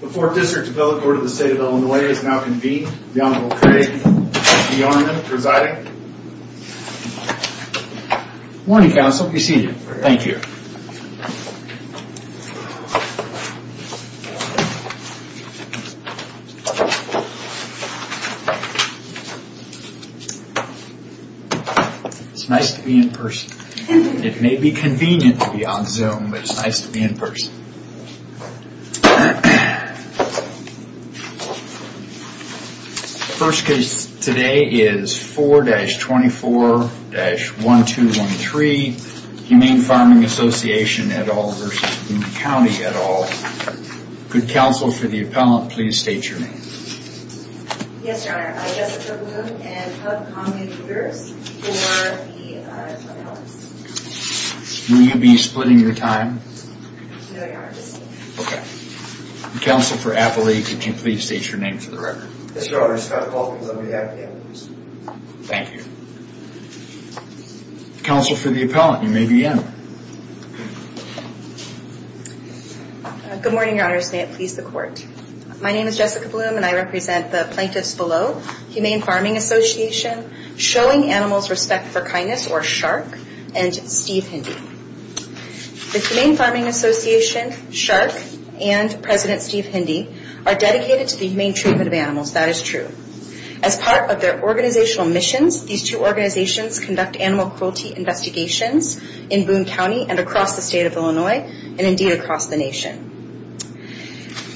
The 4th District's Bill of Order of the State of Illinois is now convened. The Honorable Craig B. Arnden presiding. Morning, Counsel. Be seated. Thank you. It's nice to be in person. It may be convenient to be on Zoom, but it's nice to be in person. The first case today is 4-24-1213, Humane Farming Association, et al. v. Boone County, et al. Could Counsel for the Appellant please state your name? Yes, Your Honor. I'm Jessica Boone, and I'm one of the community leaders for the Appellants. Will you be splitting your time? No, Your Honor. Just a minute. Counsel for the Appellant, could you please state your name for the record? Yes, Your Honor. I'm Scott Paul, and I'm one of the Appellants. Thank you. Counsel for the Appellant, you may begin. Good morning, Your Honors. May it please the Court. My name is Jessica Boone, and I represent the Plaintiffs Below, Humane Farming Association, Showing Animals Respect for Kindness, or SHARK, and Steve Hindi. The Humane Farming Association, SHARK, and President Steve Hindi are dedicated to the humane treatment of animals. That is true. As part of their organizational missions, these two organizations conduct animal cruelty investigations in Boone County and across the state of Illinois, and indeed across the nation.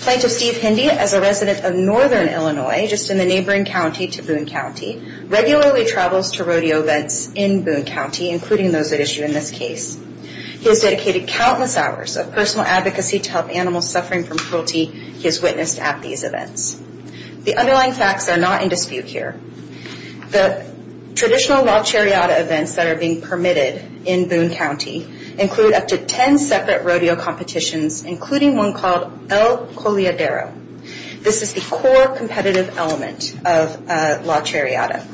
Plaintiff Steve Hindi, as a resident of Northern Illinois, just in the neighboring county to Boone County, regularly travels to rodeo events in Boone County, including those at issue in this case. He has dedicated countless hours of personal advocacy to help animals suffering from cruelty he has witnessed at these events. The underlying facts are not in dispute here. The traditional log chariot events that are being permitted in Boone County include up to 10 separate rodeo competitions, including one called El Coleadero. This is the core competitive element of log chariot.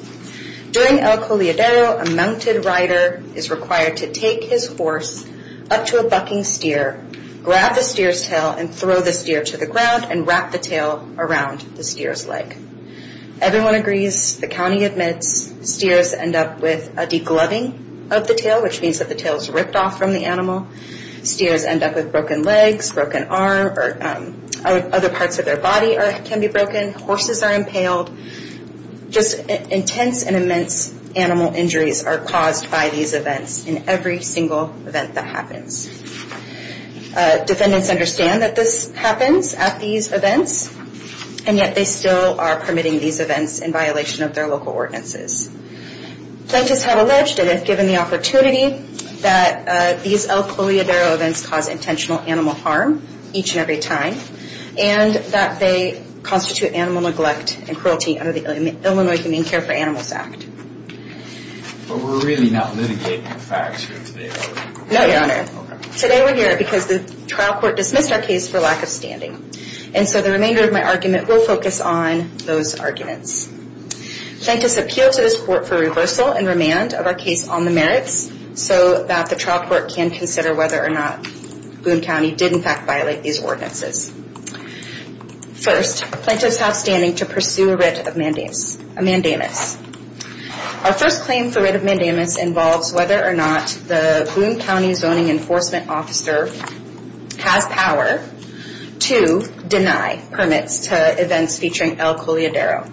During El Coleadero, a mounted rider is required to take his horse up to a bucking steer, grab the steer's tail, and throw the steer to the ground, and wrap the tail around the steer's leg. Everyone agrees. The county admits. Steers end up with a degloving of the tail, which means that the tail is ripped off from the animal. Steers end up with broken legs, broken arms, or other parts of their body can be broken. Horses are impaled. Just intense and immense animal injuries are caused by these events in every single event that happens. Defendants understand that this happens at these events, and yet they still are permitting these events in violation of their local ordinances. Plaintiffs have alleged, and have given the opportunity, that these El Coleadero events cause intentional animal harm each and every time, and that they constitute animal neglect and cruelty under the Illinois Humane Care for Animals Act. But we're really not litigating the facts here today, are we? No, Your Honor. Today we're here because the trial court dismissed our case for lack of standing. And so the remainder of my argument will focus on those arguments. Plaintiffs appeal to this court for reversal and remand of our case on the merits, so that the trial court can consider whether or not Boone County did in fact violate these ordinances. First, plaintiffs have standing to pursue a writ of mandamus. Our first claim for writ of mandamus involves whether or not the Boone County Zoning Enforcement Officer has power to deny permits to events featuring El Coleadero.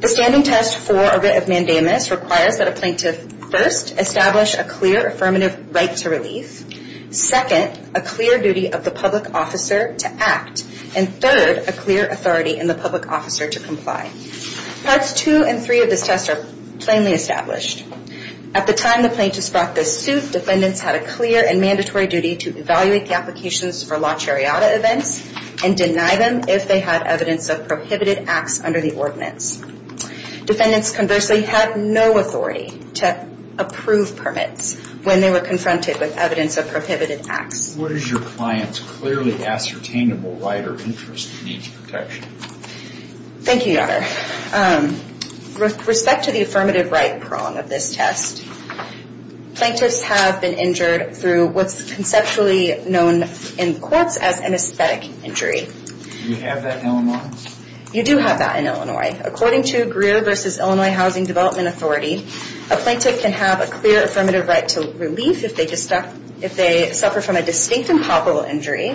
The standing test for a writ of mandamus requires that a plaintiff first establish a clear affirmative right to relief, second, a clear duty of the public officer to act, and third, a clear authority in the public officer to comply. Parts two and three of this test are plainly established. At the time the plaintiffs brought this suit, defendants had a clear and mandatory duty to evaluate the applications for La Chariota events and deny them if they had evidence of prohibited acts under the ordinance. Defendants conversely had no authority to approve permits when they were confronted with evidence of prohibited acts. What is your client's clearly ascertainable right or interest in each protection? Thank you, Your Honor. With respect to the affirmative right prong of this test, plaintiffs have been injured through what's conceptually known in courts as an aesthetic injury. Do we have that in Illinois? You do have that in Illinois. According to Greer v. Illinois Housing Development Authority, a plaintiff can have a clear affirmative right to relief if they suffer from a distinct and palpable injury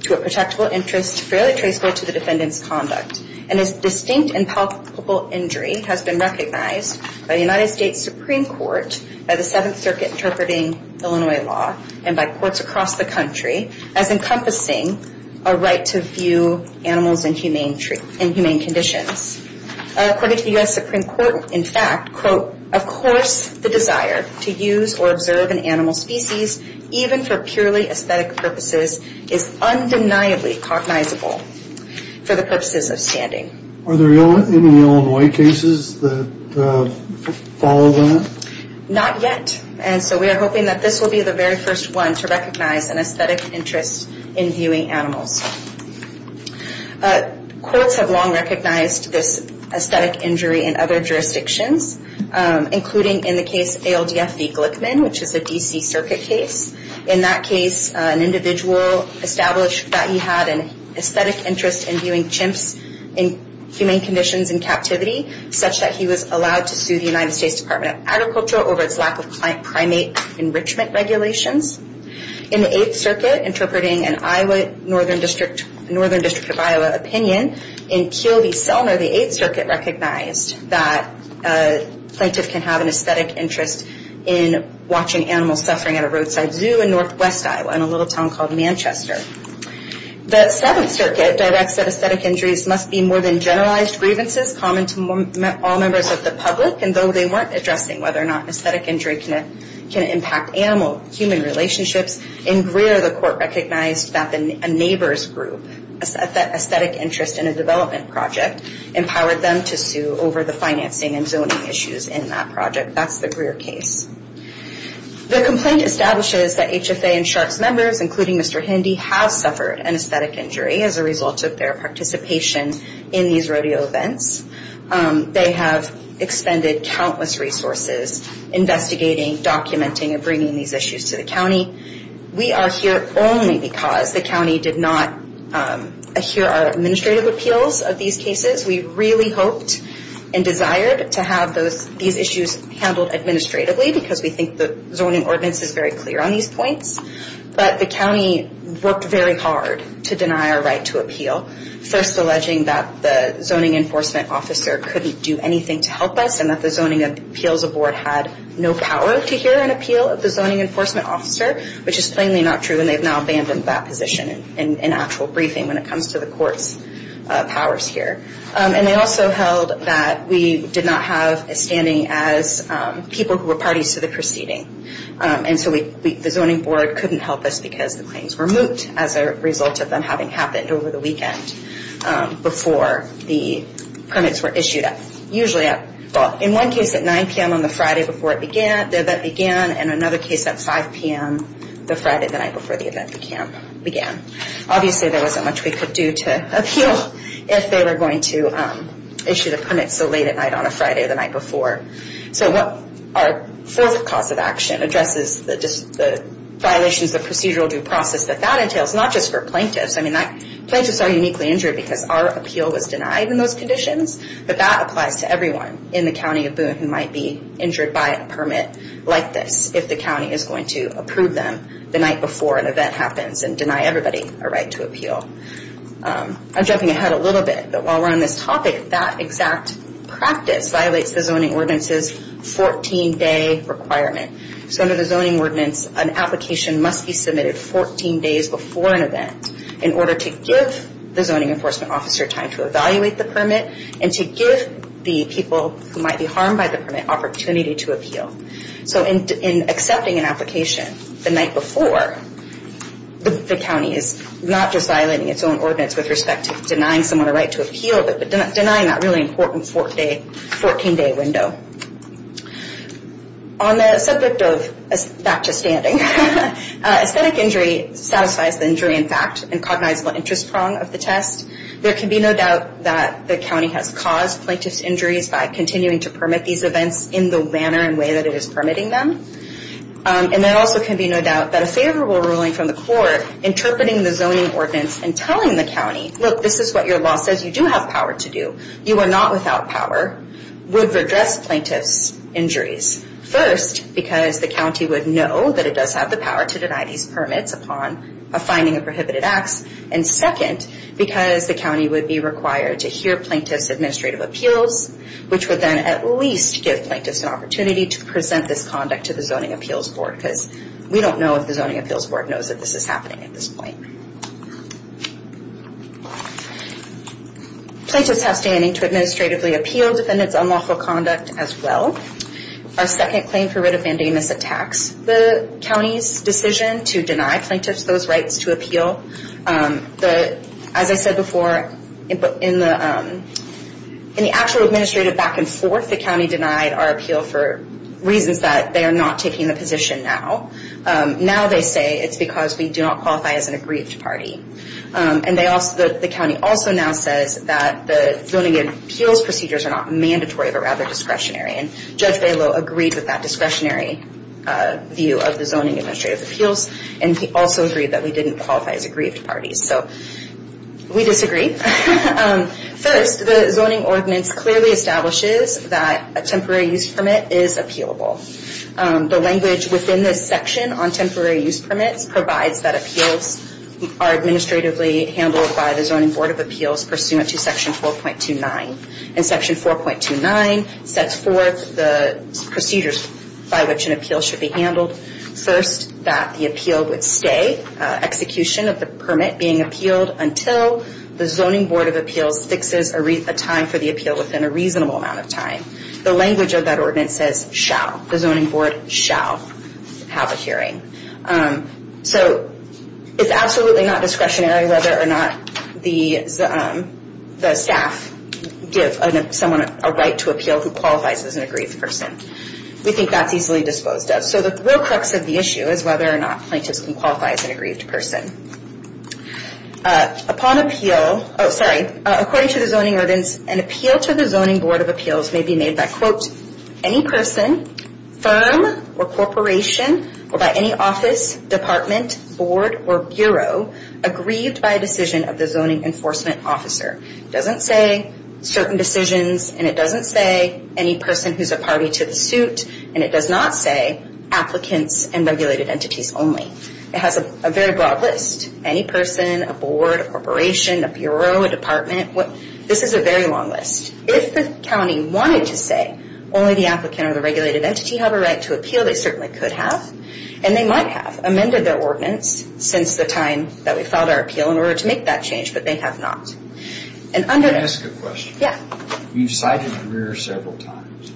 to a protectable interest fairly traceable to the defendant's conduct. And this distinct and palpable injury has been recognized by the United States Supreme Court by the Seventh Circuit interpreting Illinois law and by courts across the country as encompassing a right to view animals in humane conditions. According to the U.S. Supreme Court, in fact, quote, of course the desire to use or observe an animal species even for purely aesthetic purposes is undeniably cognizable for the purposes of standing. Are there any Illinois cases that follow that? Not yet. And so we are hoping that this will be the very first one to recognize an aesthetic interest in viewing animals. Courts have long recognized this aesthetic injury in other jurisdictions, including in the case ALDF v. Glickman, which is a D.C. Circuit case. In that case, an individual established that he had an aesthetic interest in viewing chimps in humane conditions in captivity, such that he was allowed to sue the United States Department of Agriculture over its lack of primate enrichment regulations. In the Eighth Circuit, interpreting an Iowa, Northern District of Iowa opinion, in Keel v. Selmer, the Eighth Circuit recognized that a plaintiff can have an aesthetic interest in watching animals suffering at a roadside zoo in Northwest Iowa in a little town called Manchester. The Seventh Circuit directs that aesthetic injuries must be more than generalized grievances common to all members of the public, and though they weren't addressing whether or not an aesthetic injury can impact animal-human relationships, in Greer, the court recognized that a neighbor's group, an aesthetic interest in a development project, empowered them to sue over the financing and zoning issues in that project. That's the Greer case. The complaint establishes that HFA and SHARC's members, including Mr. Hindy, have suffered an aesthetic injury as a result of their participation in these rodeo events. They have expended countless resources investigating, documenting, and bringing these issues to the county. We are here only because the county did not hear our administrative appeals of these cases. We really hoped and desired to have these issues handled administratively because we think the zoning ordinance is very clear on these points, but the county worked very hard to deny our right to appeal, first alleging that the zoning enforcement officer couldn't do anything to help us, and that the zoning appeals board had no power to hear an appeal of the zoning enforcement officer, which is plainly not true, and they've now abandoned that position in actual briefing when it comes to the court's powers here. They also held that we did not have a standing as people who were parties to the proceeding, and so the zoning board couldn't help us because the claims were moot as a result of them having happened over the weekend before the permits were issued. In one case, at 9 p.m. on the Friday before the event began, and another case at 5 p.m. the Friday night before the event began. Obviously, there wasn't much we could do to appeal if they were going to issue the permits so late at night on a Friday the night before. Our fourth cause of action addresses the violations of procedural due process that that entails, not just for plaintiffs. Plaintiffs are uniquely injured because our appeal was denied in those conditions, but that applies to everyone in the county of Boone who might be injured by a permit like this if the county is going to approve them the night before an event happens and deny everybody a right to appeal. I'm jumping ahead a little bit, but while we're on this topic, that exact practice violates the zoning ordinance's 14-day requirement. So under the zoning ordinance, an application must be submitted 14 days before an event in order to give the zoning enforcement officer time to evaluate the permit and to give the people who might be harmed by the permit opportunity to appeal. So in accepting an application the night before, the county is not just violating its own ordinance with respect to denying someone a right to appeal, but denying that really important 14-day window. On the subject of that just standing, aesthetic injury satisfies the injury in fact and cognizable interest prong of the test. There can be no doubt that the county has caused plaintiffs' injuries by continuing to permit these events in the manner and way that it is permitting them. And there also can be no doubt that a favorable ruling from the court interpreting the zoning ordinance and telling the county, look, this is what your law says you do have power to do, you are not without power, would redress plaintiffs' injuries. First, because the county would know that it does have the power to deny these permits upon a finding of prohibited acts. And second, because the county would be required to hear plaintiffs' administrative appeals, which would then at least give plaintiffs an opportunity to present this conduct to the Zoning Appeals Board because the Zoning Appeals Board knows that this is happening at this point. Plaintiffs have standing to administratively appeal defendants' unlawful conduct as well. Our second claim for writ of mandamus attacks the county's decision to deny plaintiffs those rights to appeal. As I said before, in the actual administrative back and forth, the county denied our appeal for reasons that they are not taking the position now. Now they say it's because we do not qualify as an aggrieved party. And the county also now says that the Zoning Appeals procedures are not mandatory, but rather discretionary. And Judge Balow agreed with that discretionary view of the Zoning Administrative Appeals and he also agreed that we didn't qualify as aggrieved parties. So, we disagree. First, the zoning ordinance clearly establishes that a temporary use permit is appealable. The language within this section on temporary use permits provides that appeals are administratively handled by the Zoning Board of Appeals pursuant to Section 4.29. And Section 4.29 sets forth the procedures by which an appeal should be handled. First, that the appeal would stay, execution of the permit being appealed, until the Zoning Board of Appeals fixes a time for the appeal within a reasonable amount of time. The language of that ordinance says, shall. The Zoning Board shall have a hearing. So, it's absolutely not discretionary whether or not the staff give someone a right to appeal who qualifies as an aggrieved person. We think that's easily disposed of. So, the real crux of the issue is whether or not plaintiffs can qualify as an aggrieved person. Upon appeal, oh sorry, according to the zoning ordinance, an appeal to the Zoning Board of Appeals may be made by, quote, any person, firm, or corporation, or by any office, department, board, or bureau aggrieved by a decision of the zoning enforcement officer. It doesn't say certain decisions, and it doesn't say any person who's a party to the suit, and it does not say applicants and regulated entities only. It has a very broad list. Any person, a board, a corporation, a bureau, a department. This is a very long list. If the county wanted to say only the applicant or the regulated entity have a right to appeal, they certainly could have, and they might have amended their ordinance since the time that we filed our appeal in order to make that change, but they have not. Can I ask a question? Yeah. You've cited Greer several times.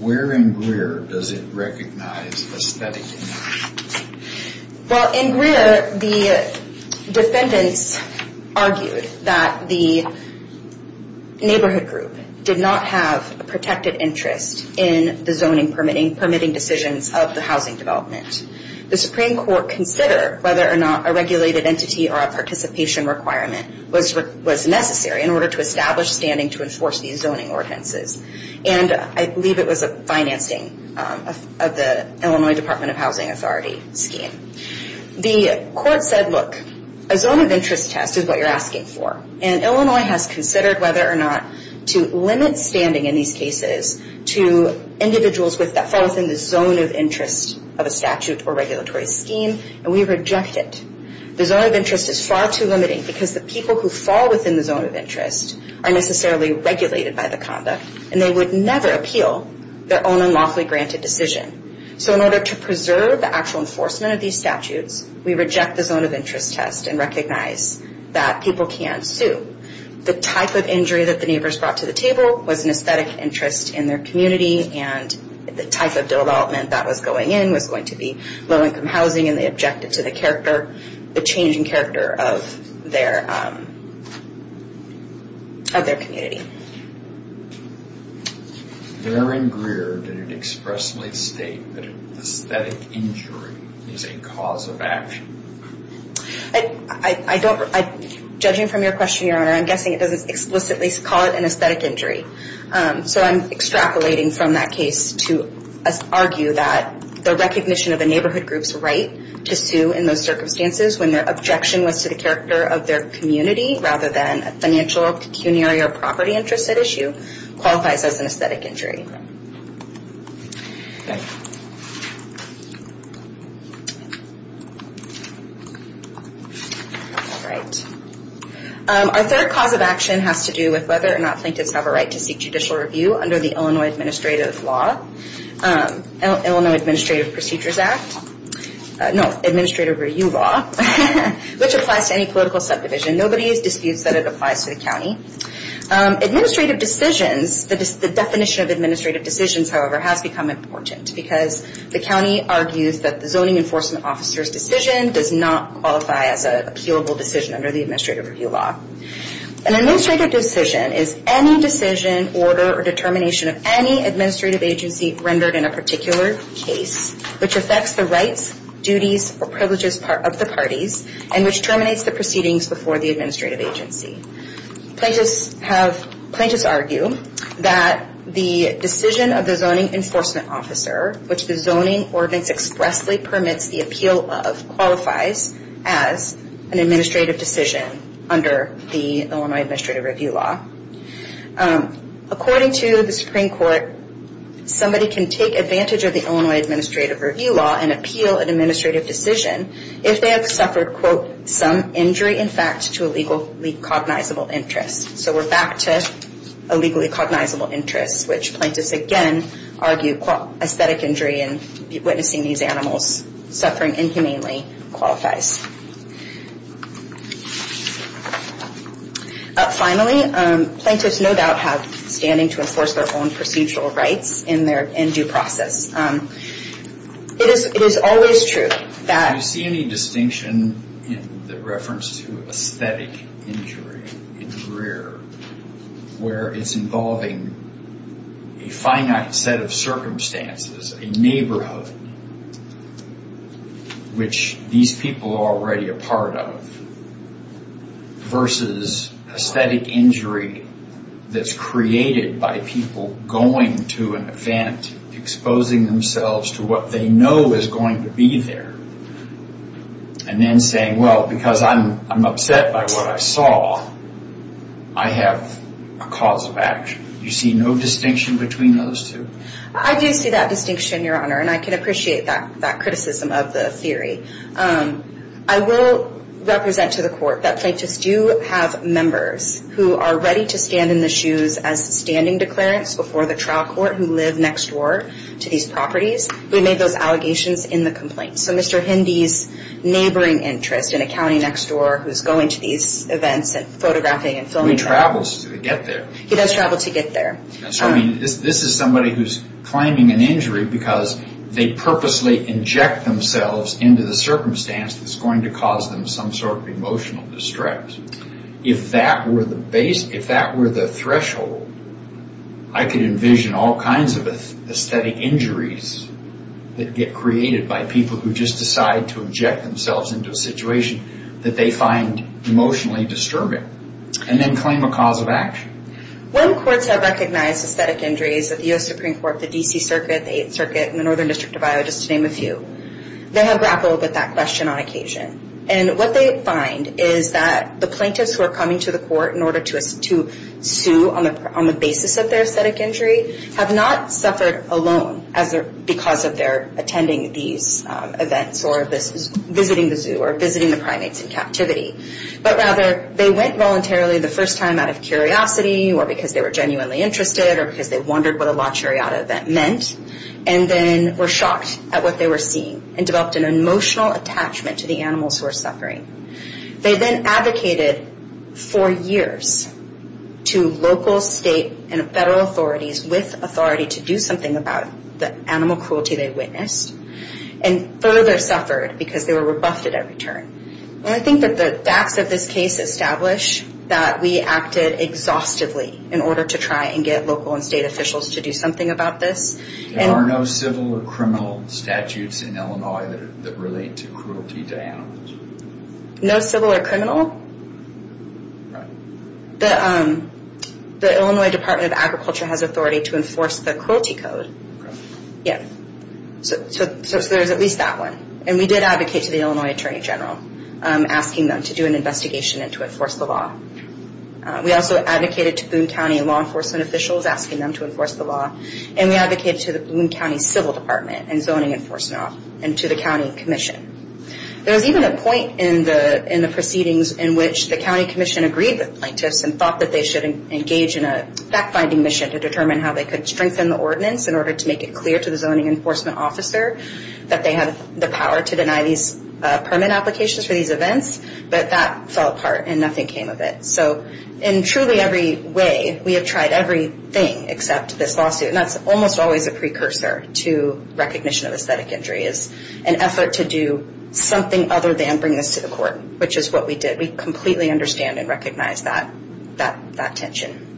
Where in Greer does it recognize aesthetic injustice? Well, in Greer, the defendants argued that the neighborhood group did not have a protected interest in the zoning permitting decisions of the housing development. The Supreme Court considered whether or not a regulated entity or a participation requirement was necessary in order to establish standing to enforce these zoning ordinances, and I believe it was a financing of the Illinois Department of Housing Authority scheme. The court said, look, a zone of interest test is what you're asking for, and Illinois has considered whether or not to limit standing in these cases to individuals that fall within the zone of interest of a statute or regulatory scheme, and we reject it. The zone of interest is far too limiting because the people who fall within the zone of interest are necessarily regulated by the conduct, and they would never appeal their own unlawfully granted decision. So in order to preserve the actual enforcement of these statutes, we need to make sure that people can't sue. The type of injury that the neighbors brought to the table was an aesthetic interest in their community, and the type of development that was going in was going to be low-income housing, and they objected to the changing character of their community. Darren Greer did expressly state that aesthetic injury is a cause of action. Judging from your question, Your Honor, I'm guessing it doesn't explicitly call it an aesthetic injury. So I'm extrapolating from that case to argue that the recognition of a neighborhood group's right to sue in those circumstances when their objection was to the character of their community rather than a financial, pecuniary, or property interest at issue qualifies as an aesthetic injury. All right. Our third cause of action has to do with whether or not plaintiffs have a right to seek judicial review under the Illinois Administrative Law, Illinois Administrative Procedures Act, no, Administrative Review Law, which applies to any political subdivision. Nobody disputes that it applies to the county. Administrative decisions, the definition of administrative decisions, however, has become important because the county argues that the zoning enforcement officer's decision does not qualify as an appealable decision under the Administrative Review Law. An administrative decision is any decision, order, or determination of any administrative agency rendered in a particular case which affects the rights, duties, or privileges of the parties and which terminates the proceedings before the administrative agency. Plaintiffs argue that the decision of the zoning enforcement officer which the zoning ordinance expresses vastly permits the appeal of qualifies as an administrative decision under the Illinois Administrative Review Law. According to the Supreme Court, somebody can take advantage of the Illinois Administrative Review Law and appeal an administrative decision if they have suffered quote, some injury in fact to a legally cognizable interest. So we're back to a legally cognizable interest which plaintiffs again argue that aesthetic injury and witnessing these animals suffering inhumanely qualifies. Finally, plaintiffs no doubt have standing to enforce their own procedural rights in due process. It is always true that Do you see any distinction in the reference to aesthetic injury in Greer where it's involving a finite set of circumstances a neighborhood which these people are already a part of versus aesthetic injury that's created by people going to an event exposing themselves to what they know is going to be there and then saying well because I'm upset by what I saw I have a cause of action. Do you see no distinction between those two? I do see that distinction Your Honor and I can appreciate that criticism of the theory. I will represent to the court that plaintiffs do have members who are ready to stand in the shoes as standing declarants before the trial court who live next door to these properties who made those allegations in the complaint. So Mr. Hindy's neighboring interest in a county next door who's going to these events and photographing and filming so he travels to get there. He does travel to get there. This is somebody who's claiming an injury because they purposely inject themselves into the circumstance that's going to cause them some sort of emotional distress. If that were the threshold I could envision all kinds of aesthetic injuries that get created by people who just decide to inject themselves and claim a cause of action. When courts have recognized aesthetic injuries at the U.S. Supreme Court, the D.C. Circuit, the 8th Circuit, and the Northern District of Iowa just to name a few they have grappled with that question on occasion. And what they find is that the plaintiffs who are coming to the court in order to sue on the basis of their aesthetic injury have not suffered alone because of their attending these events or visiting the zoo or visiting the primates in captivity. But rather they went voluntarily the first time out of curiosity or because they were genuinely interested or because they wondered what a La Chariota event meant and then were shocked at what they were seeing and developed an emotional attachment to the animals who were suffering. They then advocated for years to local, state, and federal authorities with authority to do something about the animal cruelty they witnessed and further suffered because they were rebuffed at every turn. And I think that the facts of this case establish that we acted exhaustively in order to try and get local and state officials to do something about this. There are no civil or criminal statutes in Illinois that relate to cruelty to animals? No civil or criminal. The Illinois Department of Agriculture has authority to enforce the cruelty code. So there's at least that one. And we did advocate to the Illinois Attorney General asking them to do an investigation and to enforce the law. We also advocated to Boone County law enforcement officials asking them to enforce the law. And we advocated to the Boone County Civil Department and zoning enforcement and to the county commission. There was even a point in the proceedings in which the county commission agreed with plaintiffs and thought that they should engage in a fact-finding mission to determine how they could strengthen the ordinance in order to make it clear to the zoning enforcement officer that they have the power to deny these permit applications for these events. But that fell apart and nothing came of it. So in truly every way, we have tried everything except this lawsuit. And that's almost always a precursor to recognition of aesthetic injury is an effort to do something other than bring this to the court, which is what we did. We completely understand and recognize that tension.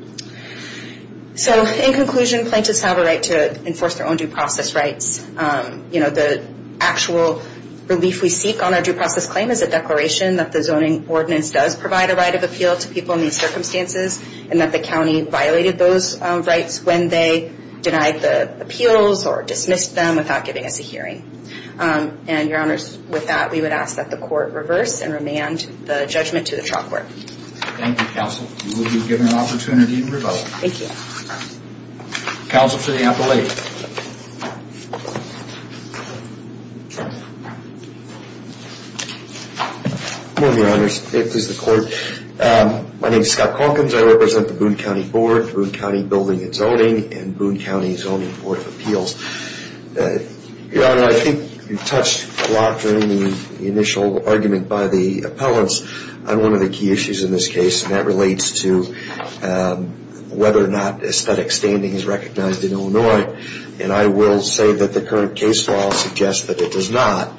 So in conclusion, plaintiffs have a right to enforce their own due process rights. You know, the actual relief we seek on our due process claim is a declaration that the zoning ordinance does provide a right of appeal to people in these circumstances and that the county violated those rights when they denied the appeals or dismissed them without giving us a hearing. And your honors, with that, we would ask that the court reverse and remand the judgment to the trial court. Thank you, counsel. You will be given an opportunity to revoke. Thank you. Counsel to the appellate. Good morning, your honors. This is the court. My name is Scott Calkins. I represent the Boone County Board, Boone County Building and Zoning, and Boone County Zoning Board of Appeals. Your honor, I think you touched a lot during the initial argument by the appellants on one of the key issues in this case, and that relates to whether or not aesthetic standing is recognized in Illinois. And I will say that the current case law suggests that it does not.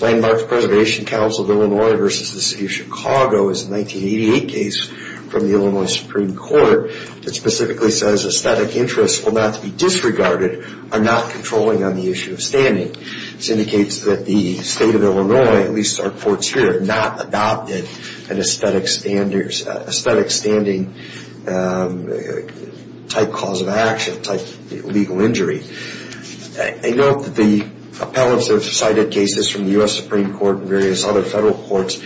Landmarks Preservation Council of Illinois versus the city of Chicago is a 1988 case from the Illinois Supreme Court that specifically says aesthetic interests will not be disregarded or not controlling on the issue of standing. This indicates that the state of Illinois, at least our courts here, have not adopted an aesthetic standing type cause of action, type legal injury. I note that the appellants have cited cases from the U.S. Supreme Court and various other federal courts,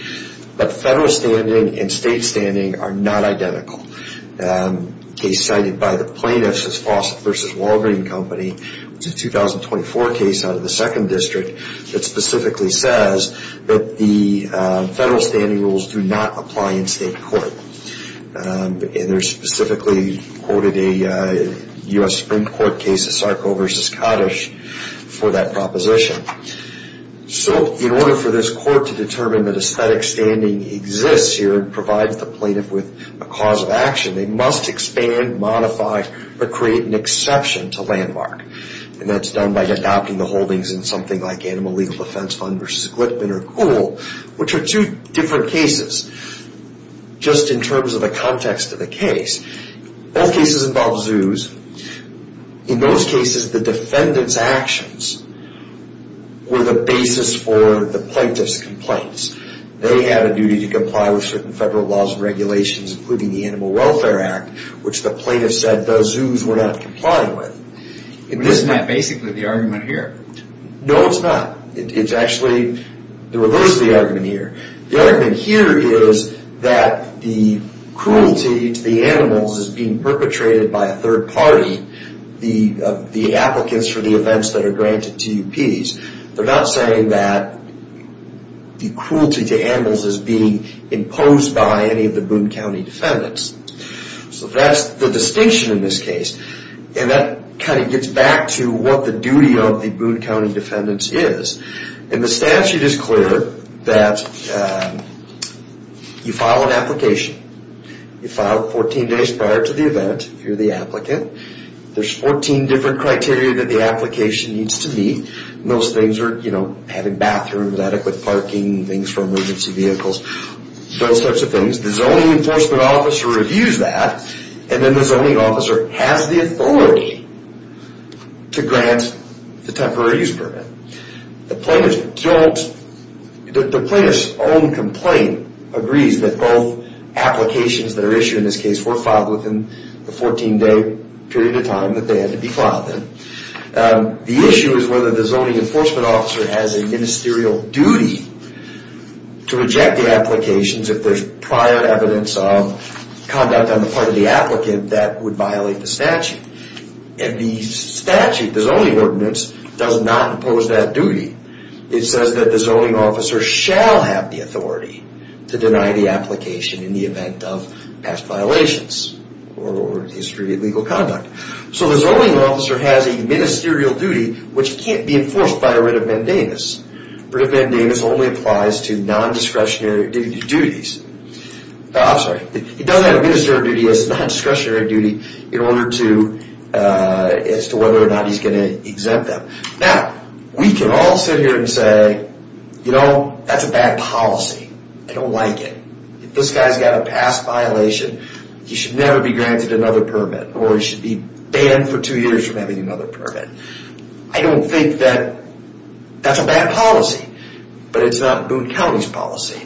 but federal standing and state standing are not identical. A case cited by the plaintiffs is Fawcett versus Walgreen Company, which is a 2024 case out of the 2nd District that specifically says that the federal standing rules do not apply in state court. And they specifically quoted a U.S. Supreme Court case of Sarko versus Kaddish for that proposition. So, in order for this court to determine that aesthetic standing exists here and provides the plaintiff with a cause of action, they must expand, or create an exception to landmark. And that's done by adopting the holdings in something like Animal Legal Defense Fund versus Glitman or which are two different cases, just in terms of the context of the case. Both cases involve zoos. In those cases, the defendant's arguments were the basis for the plaintiff's They had a duty to comply with certain federal laws and regulations, including the Animal Welfare Act, which the plaintiff said the zoos were not complying with. Isn't that basically the argument here? No, it's not. It's actually the reverse of the argument here. The argument here is that the cruelty to the animals is being imposed by any of the Boone County defendants. So that's the distinction in this case. And that kind of gets back to what the duty of the Boone County defendants is. In the statute it's clear that you file an application. You file 14 days prior to the event, you're the applicant. There's 14 different criteria that the application needs to meet and those things are, you know, having bathrooms, adequate parking, things for emergency vehicles, those types of The zoning enforcement officer reviews that and then the zoning officer has the authority to grant the temporary use permit. The plaintiff's own complaint agrees that both applications that are issued in this case were filed within the 14 day period of time that they had to be filed in. The issue is whether the zoning enforcement officer has a ministerial duty to reject the applications if there's prior evidence of conduct on the part of the applicant that would violate the And the statute, ordinance, does not impose that It says that the zoning officer shall have the authority to deny the application in the event of past violations or illegal conduct. So the zoning officer has a ministerial duty which can't be enforced by a writ of mandamus. Writ of mandamus only applies to non-discretionary duties. I'm sorry, he doesn't have a ministerial duty, he has a non-discretionary duty as to whether or not he's going to exempt them. Now, we can all sit here and say, you know, that's a bad policy. I don't like it. If this guy's got a past violation, he should never be granted another permit or he should be banned for two years from having another permit. I don't think that that's a bad policy, but it's not Boone County's policy.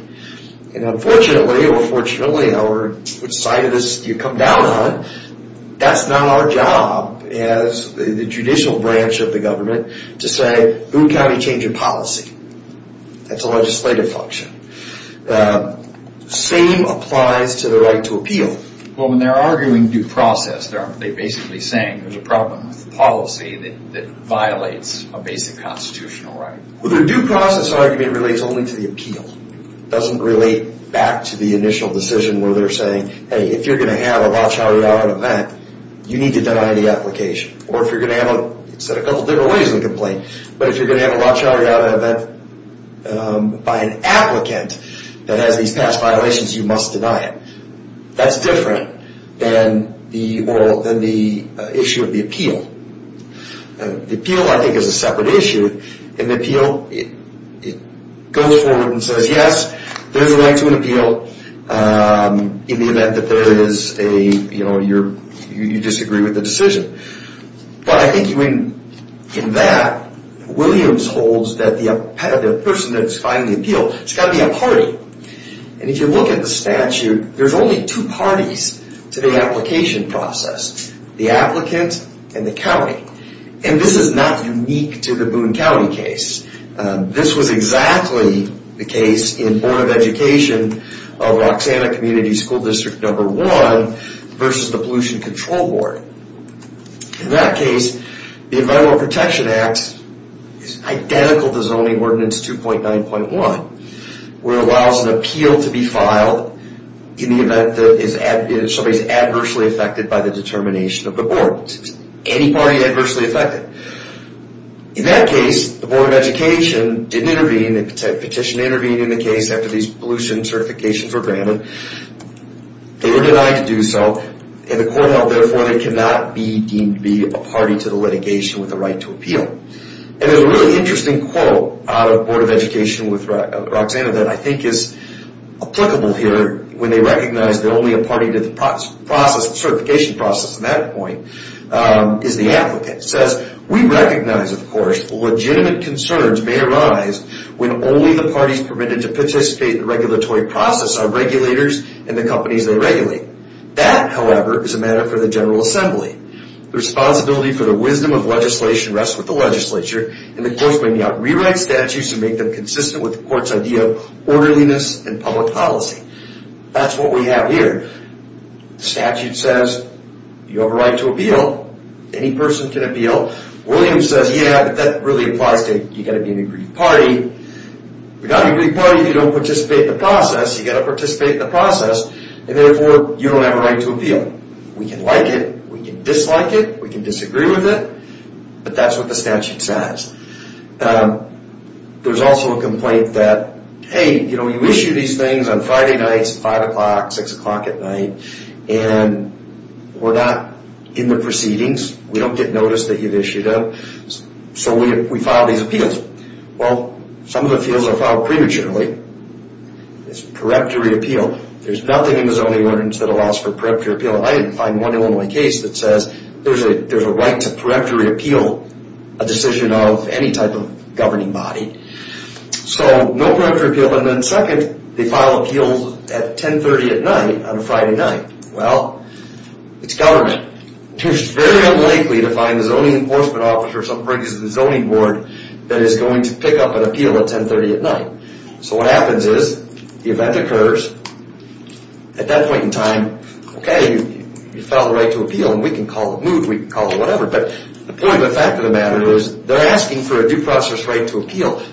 And unfortunately or fortunately which side of this you come down on, that's not our job as the judicial branch of the government to say, Boone County changed policy. That's a legislative function. Same applies to the right to appeal. Well, when they're arguing due process, they're basically saying there's a problem with policy that violates a basic constitutional right. Well, the due process argument relates only to the appeal. It doesn't relate back to the right to appeal. to have a Rothschild-Rialto event, you need to deny the application. Or if you're going to have a Rothschild-Rialto event by an applicant that has these past violations, you must deny it. That's different than the issue of the appeal. The appeal, I think, is a separate issue. In the appeal, it goes forward and says yes, there's a you disagree with the decision. But I think in that, Williams holds that the person that's filing the it's got to be a party. And if you look at the statute, there's only two parties to the application process, the applicant and the And this is not unique to the Boone County case. This was exactly the case in Board of Education of Roxanna Community School District Number 1 versus the Pollution Control Board. In that case, the Environmental Protection Act is identical to Zoning Ordinance 2.9.1, where it allows an appeal to be filed in the event that somebody is adversely affected by the determination of the board. Any party adversely affected. In that case, the Board of didn't intervene. The petition intervened in the case after these pollution certifications were granted. They were denied to do so. And the court held therefore they cannot be deemed to be a party to the litigation with the right to And there's a really interesting quote out of the Board of Representatives think is applicable here when they recognize that only a party did the certification process at that point is the applicant. It says, We recognize, legitimate concerns may arise when only the parties permitted to participate in the regulatory process are regulators and the companies they regulate. That, however, is a matter for the General Assembly. The responsibility for the wisdom of legislation rests with the legislature and the courts may not rewrite statutes to make them consistent with the court's idea of orderliness and public policy. That's what we have here. The statute says, You have a right to Any person can appeal. Williams says, Yeah, but that really applies to you You've got a big party if you don't participate in you've got to participate in the process, and therefore you don't have a right to We can like it, we can dislike it, we can disagree with it, but that's what the statute says. There's also a complaint that, you know, you issued these things on Friday nights, 5 o'clock, 6 o'clock at night, and we're not in the proceedings, we don't get noticed that you've issued them, so we file these Well, some of the appeals are filed prematurely. There's nothing in the zoning ordinance that allows for preemptory appeal. I didn't know that they file appeals at 10.30 at night on a Friday night. Well, it's government. It's very unlikely to find a zoning enforcement officer or someone from the zoning board that is going to pick up an appeal at 10.30 at So what happens is, the event occurs, at that point in okay, you file the right to and we can call the move, we can call the whatever, but the point of the fact of the matter is they're asking for a due process right to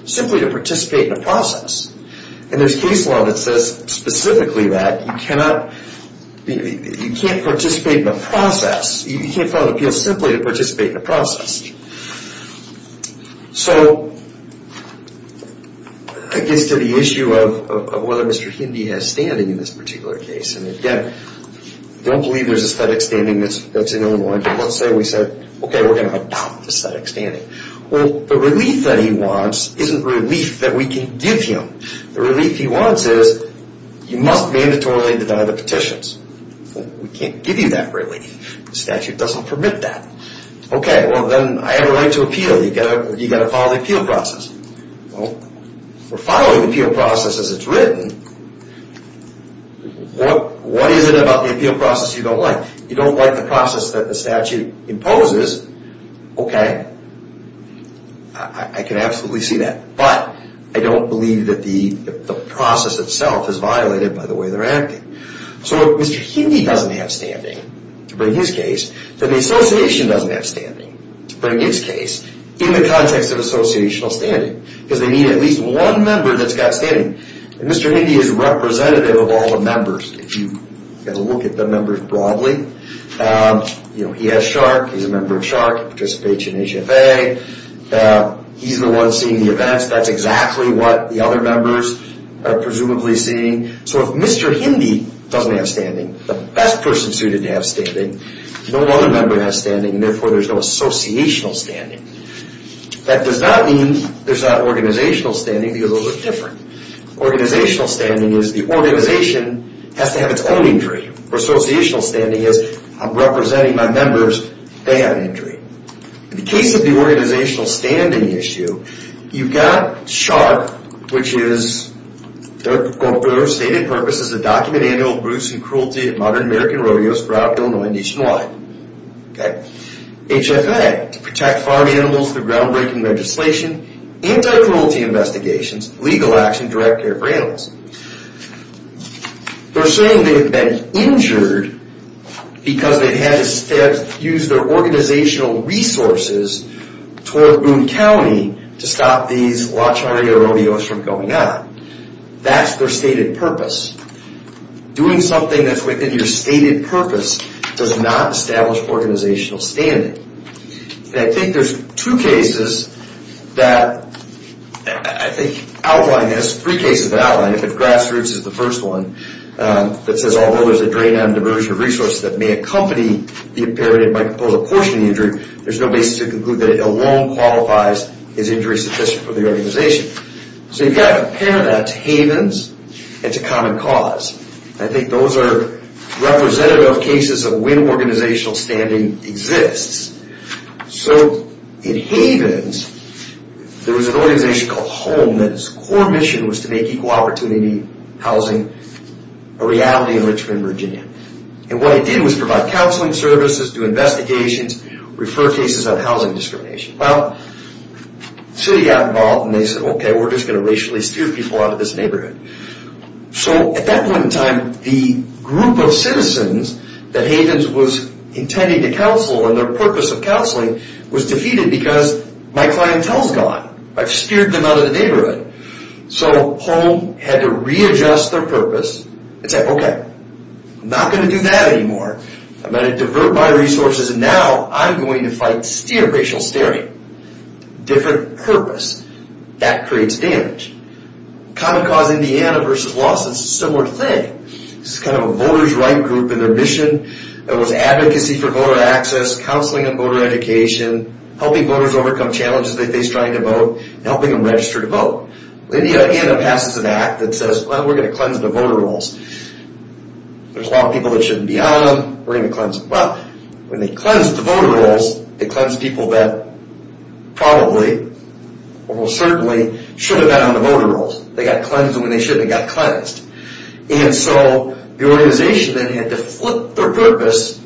simply to participate in a process. And there's case law that says specifically that you cannot, you can't participate in a process, you can't file an appeal simply to participate in a process. it gets to the issue of whether Mr. Hindy has standing in this particular case. And again, I don't believe there's aesthetic standing that's in the law. Let's say we okay, we're going to have aesthetic standing. Well, the relief that he wants isn't relief that we can give him. The relief he wants is you must mandatorily deny the petitions. We can't give you that relief. The statute doesn't permit that. Okay, well, then I have a right to You've got to follow the appeal process. Well, we're following the appeal process as it's written. What is it about the appeal process you don't like? You don't like the process that the statute imposes? Okay. I can absolutely see that. But I don't believe that the process itself is violated by the way they're acting. So if Mr. Hindy doesn't have standing to bring his case, then the doesn't have standing to bring his case in the context of the case. he has shark. He's a member of in HFA. He's the one seeing the events. That's exactly what the other members are presumably seeing. So if Mr. Hindy doesn't have standing, the best person suited to have standing is no other member has standing, and therefore there's no associational standing. That does not mean there's not organizational standing because those are different. Organizational standing is the organization has to have its own injury. Or associational standing is I'm representing my members. They have an injury. In the case of the organizational standing issue, you've got shark, which is stated purpose is to document animal abuse and cruelty in modern American rodeos throughout Illinois and HFA, to protect farm animals through groundbreaking legislation, anti-cruelty investigations, legal action, and direct care for They're saying they've been injured because they've had to use their organizational resources toward Boone County to stop these La Charrera rodeos from going on. That's their stated purpose. Doing something that's within your stated purpose does not establish organizational standing. And I think there's two cases that I think outline this, three cases that outline it, but grassroots is the first one that says although there's a drain on diversion of resources that may accompany the imperative by composing a portion of there's no basis to conclude that it alone qualifies as injury sufficient for the organization. So you've got to compare that to havens and to core mission was to make equal opportunity housing a reality in Richmond, And what I did was provide counseling services, do investigations, refer cases on housing discrimination. Well, the city got involved and they said okay we're just going to racially steer havens was intended to counsel and their purpose of counseling was defeated because my clientele is I've steered them out of the So home had to readjust their purpose and say okay, I'm not going to do that anymore. I'm going to divert my resources and now I'm going to fight racial steering. Different purpose. That creates damage. Common Cause Indiana versus Lawson is a similar thing. It's kind of a voters right group and their mission was advocacy for voter access, counseling on voter education, helping voters overcome challenges they face trying to vote, helping them register to Indiana passes an act that says we're going to cleanse the voter rolls to cleanse people that probably or most certainly should have been on the voter rolls. They got cleansed when they should and got cleansed. And so the organization then had to flip their purpose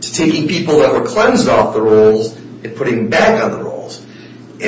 to taking people that were cleansed off the rolls and putting them back on the And the organization then had to flip their purpose to taking people that off the back on the rolls. And so flip their purpose to taking people that were cleansed off the rolls and putting them back on the rolls. And so the organization then had to flip their purpose to taking people that were cleansed off the rolls to put them back on the back on And so the whole purpose of the change action and that tax the focus is just on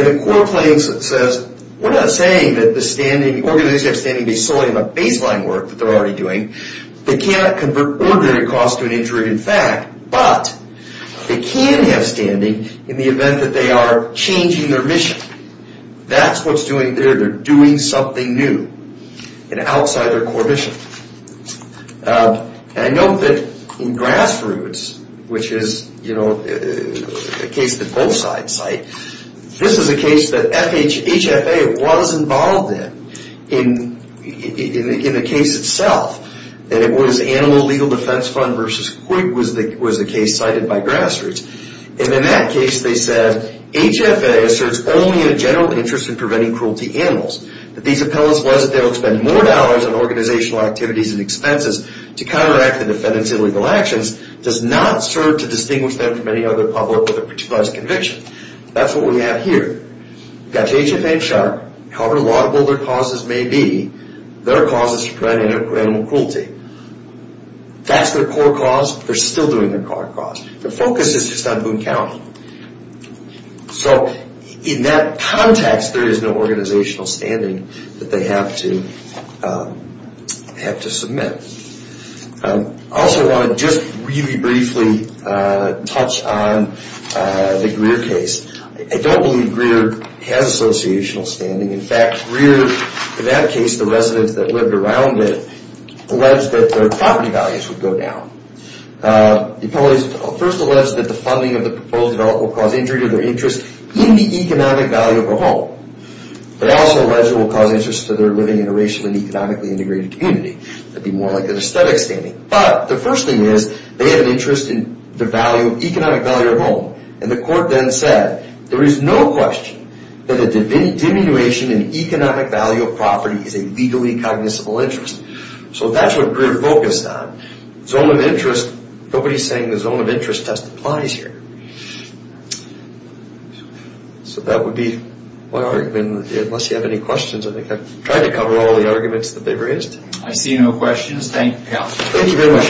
Boone County. So in that context there is no organizational standing that they have to have to submit. I also want to just really briefly touch on the Greer case. I don't believe Greer has associational standing. In fact, Greer in that case the residents that lived around it alleged that their property economic values would go down. It first alleged that the funding of the proposed development would cause injury to their interest in the economic value of a home. It also alleged it would cause interest to their living in a racially and economically integrated community. That would be more like an argument. Nobody is saying the zone of interest test applies here. So that would be my Unless you have any questions I think I tried to cover all the arguments that they raised. I see no questions. Thank you. Thank you very much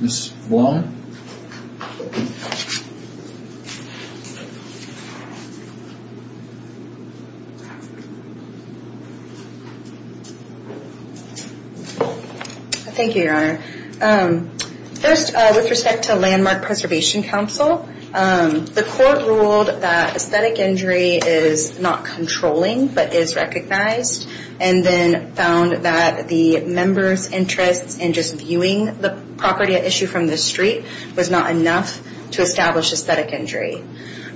Mr. Blum. Ms. Thank you your First with respect to landmark preservation council the court ruled that aesthetic injury is not controlling but is recognized. And then found that the members interests in just the property at issue from the street was not enough to establish aesthetic injury.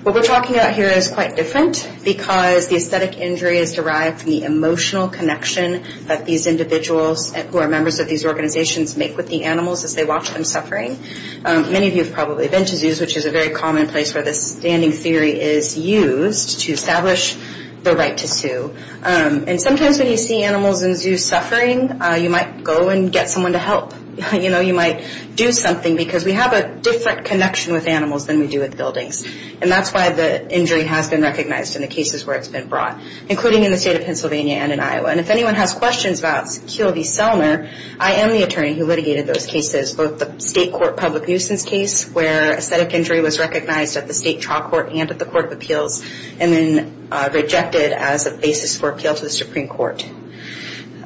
What we're talking about here is quite different because the aesthetic injury is derived from the emotional connection that these individuals who are members of these organizations make with the animals as they watch them suffering. Many of you have probably been to zoos which is a common place to establish the right to sue. Sometimes when you see animals in suffering you might go and get someone to help. You might do something because we have a different connection with animals than we buildings. That's why the injury has been recognized including in the state of Pennsylvania and Iowa. If anyone has questions about QLV Selmer I am the attorney who litigated those cases.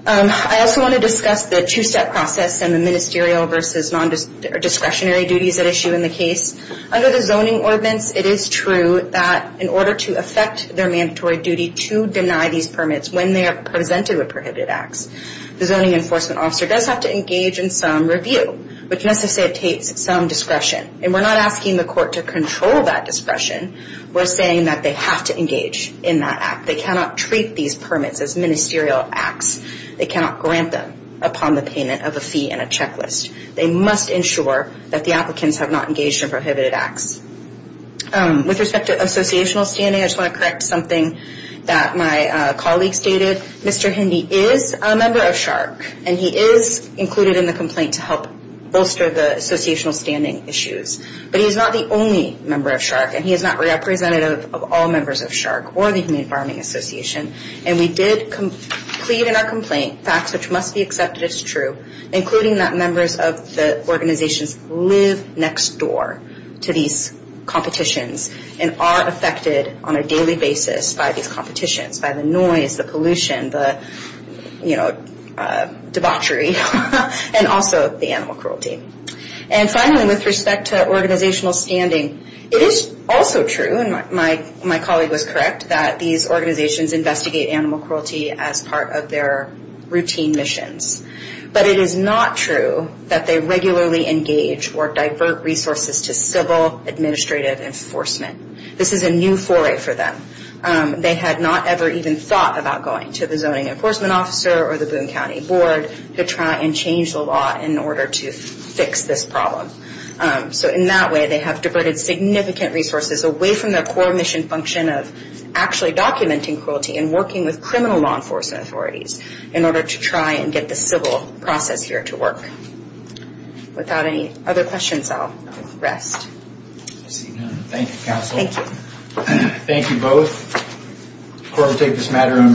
I also want to discuss the two-step process and the ministerial versus non- discretionary process. Under the zoning ordinance it is true that in order to affect their mandatory duty to deny these the zoning enforcement officer has to engage in some review. We are not asking the court to control that discretion. We are saying they have to engage in some review. I want to correct something that my colleague stated. He is a member of SHARC and he is included in the complaint to help bolster the issues. He is not the only member of SHARC and he is not the only of SHARC is also affected by these competitions on a daily basis. By the noise and and debauchery and also the animal cruelty. And finally with respect to organizational standing it is also true and my colleague was correct that these organizations investigate animal cruelty as part of their routine missions. But it is not true that they regularly engage or resources to civil administrative enforcement. This is a new foray for them. They had not ever even thought about going to the zoning enforcement officer or the Boone County Board to try and change the law in order to fix this problem. So in that way they have significant resources away from the core mission function of actually documenting cruelty and working with criminal law enforcement authorities in order to problem. Thank you for your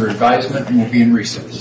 advisement. We will be in recess.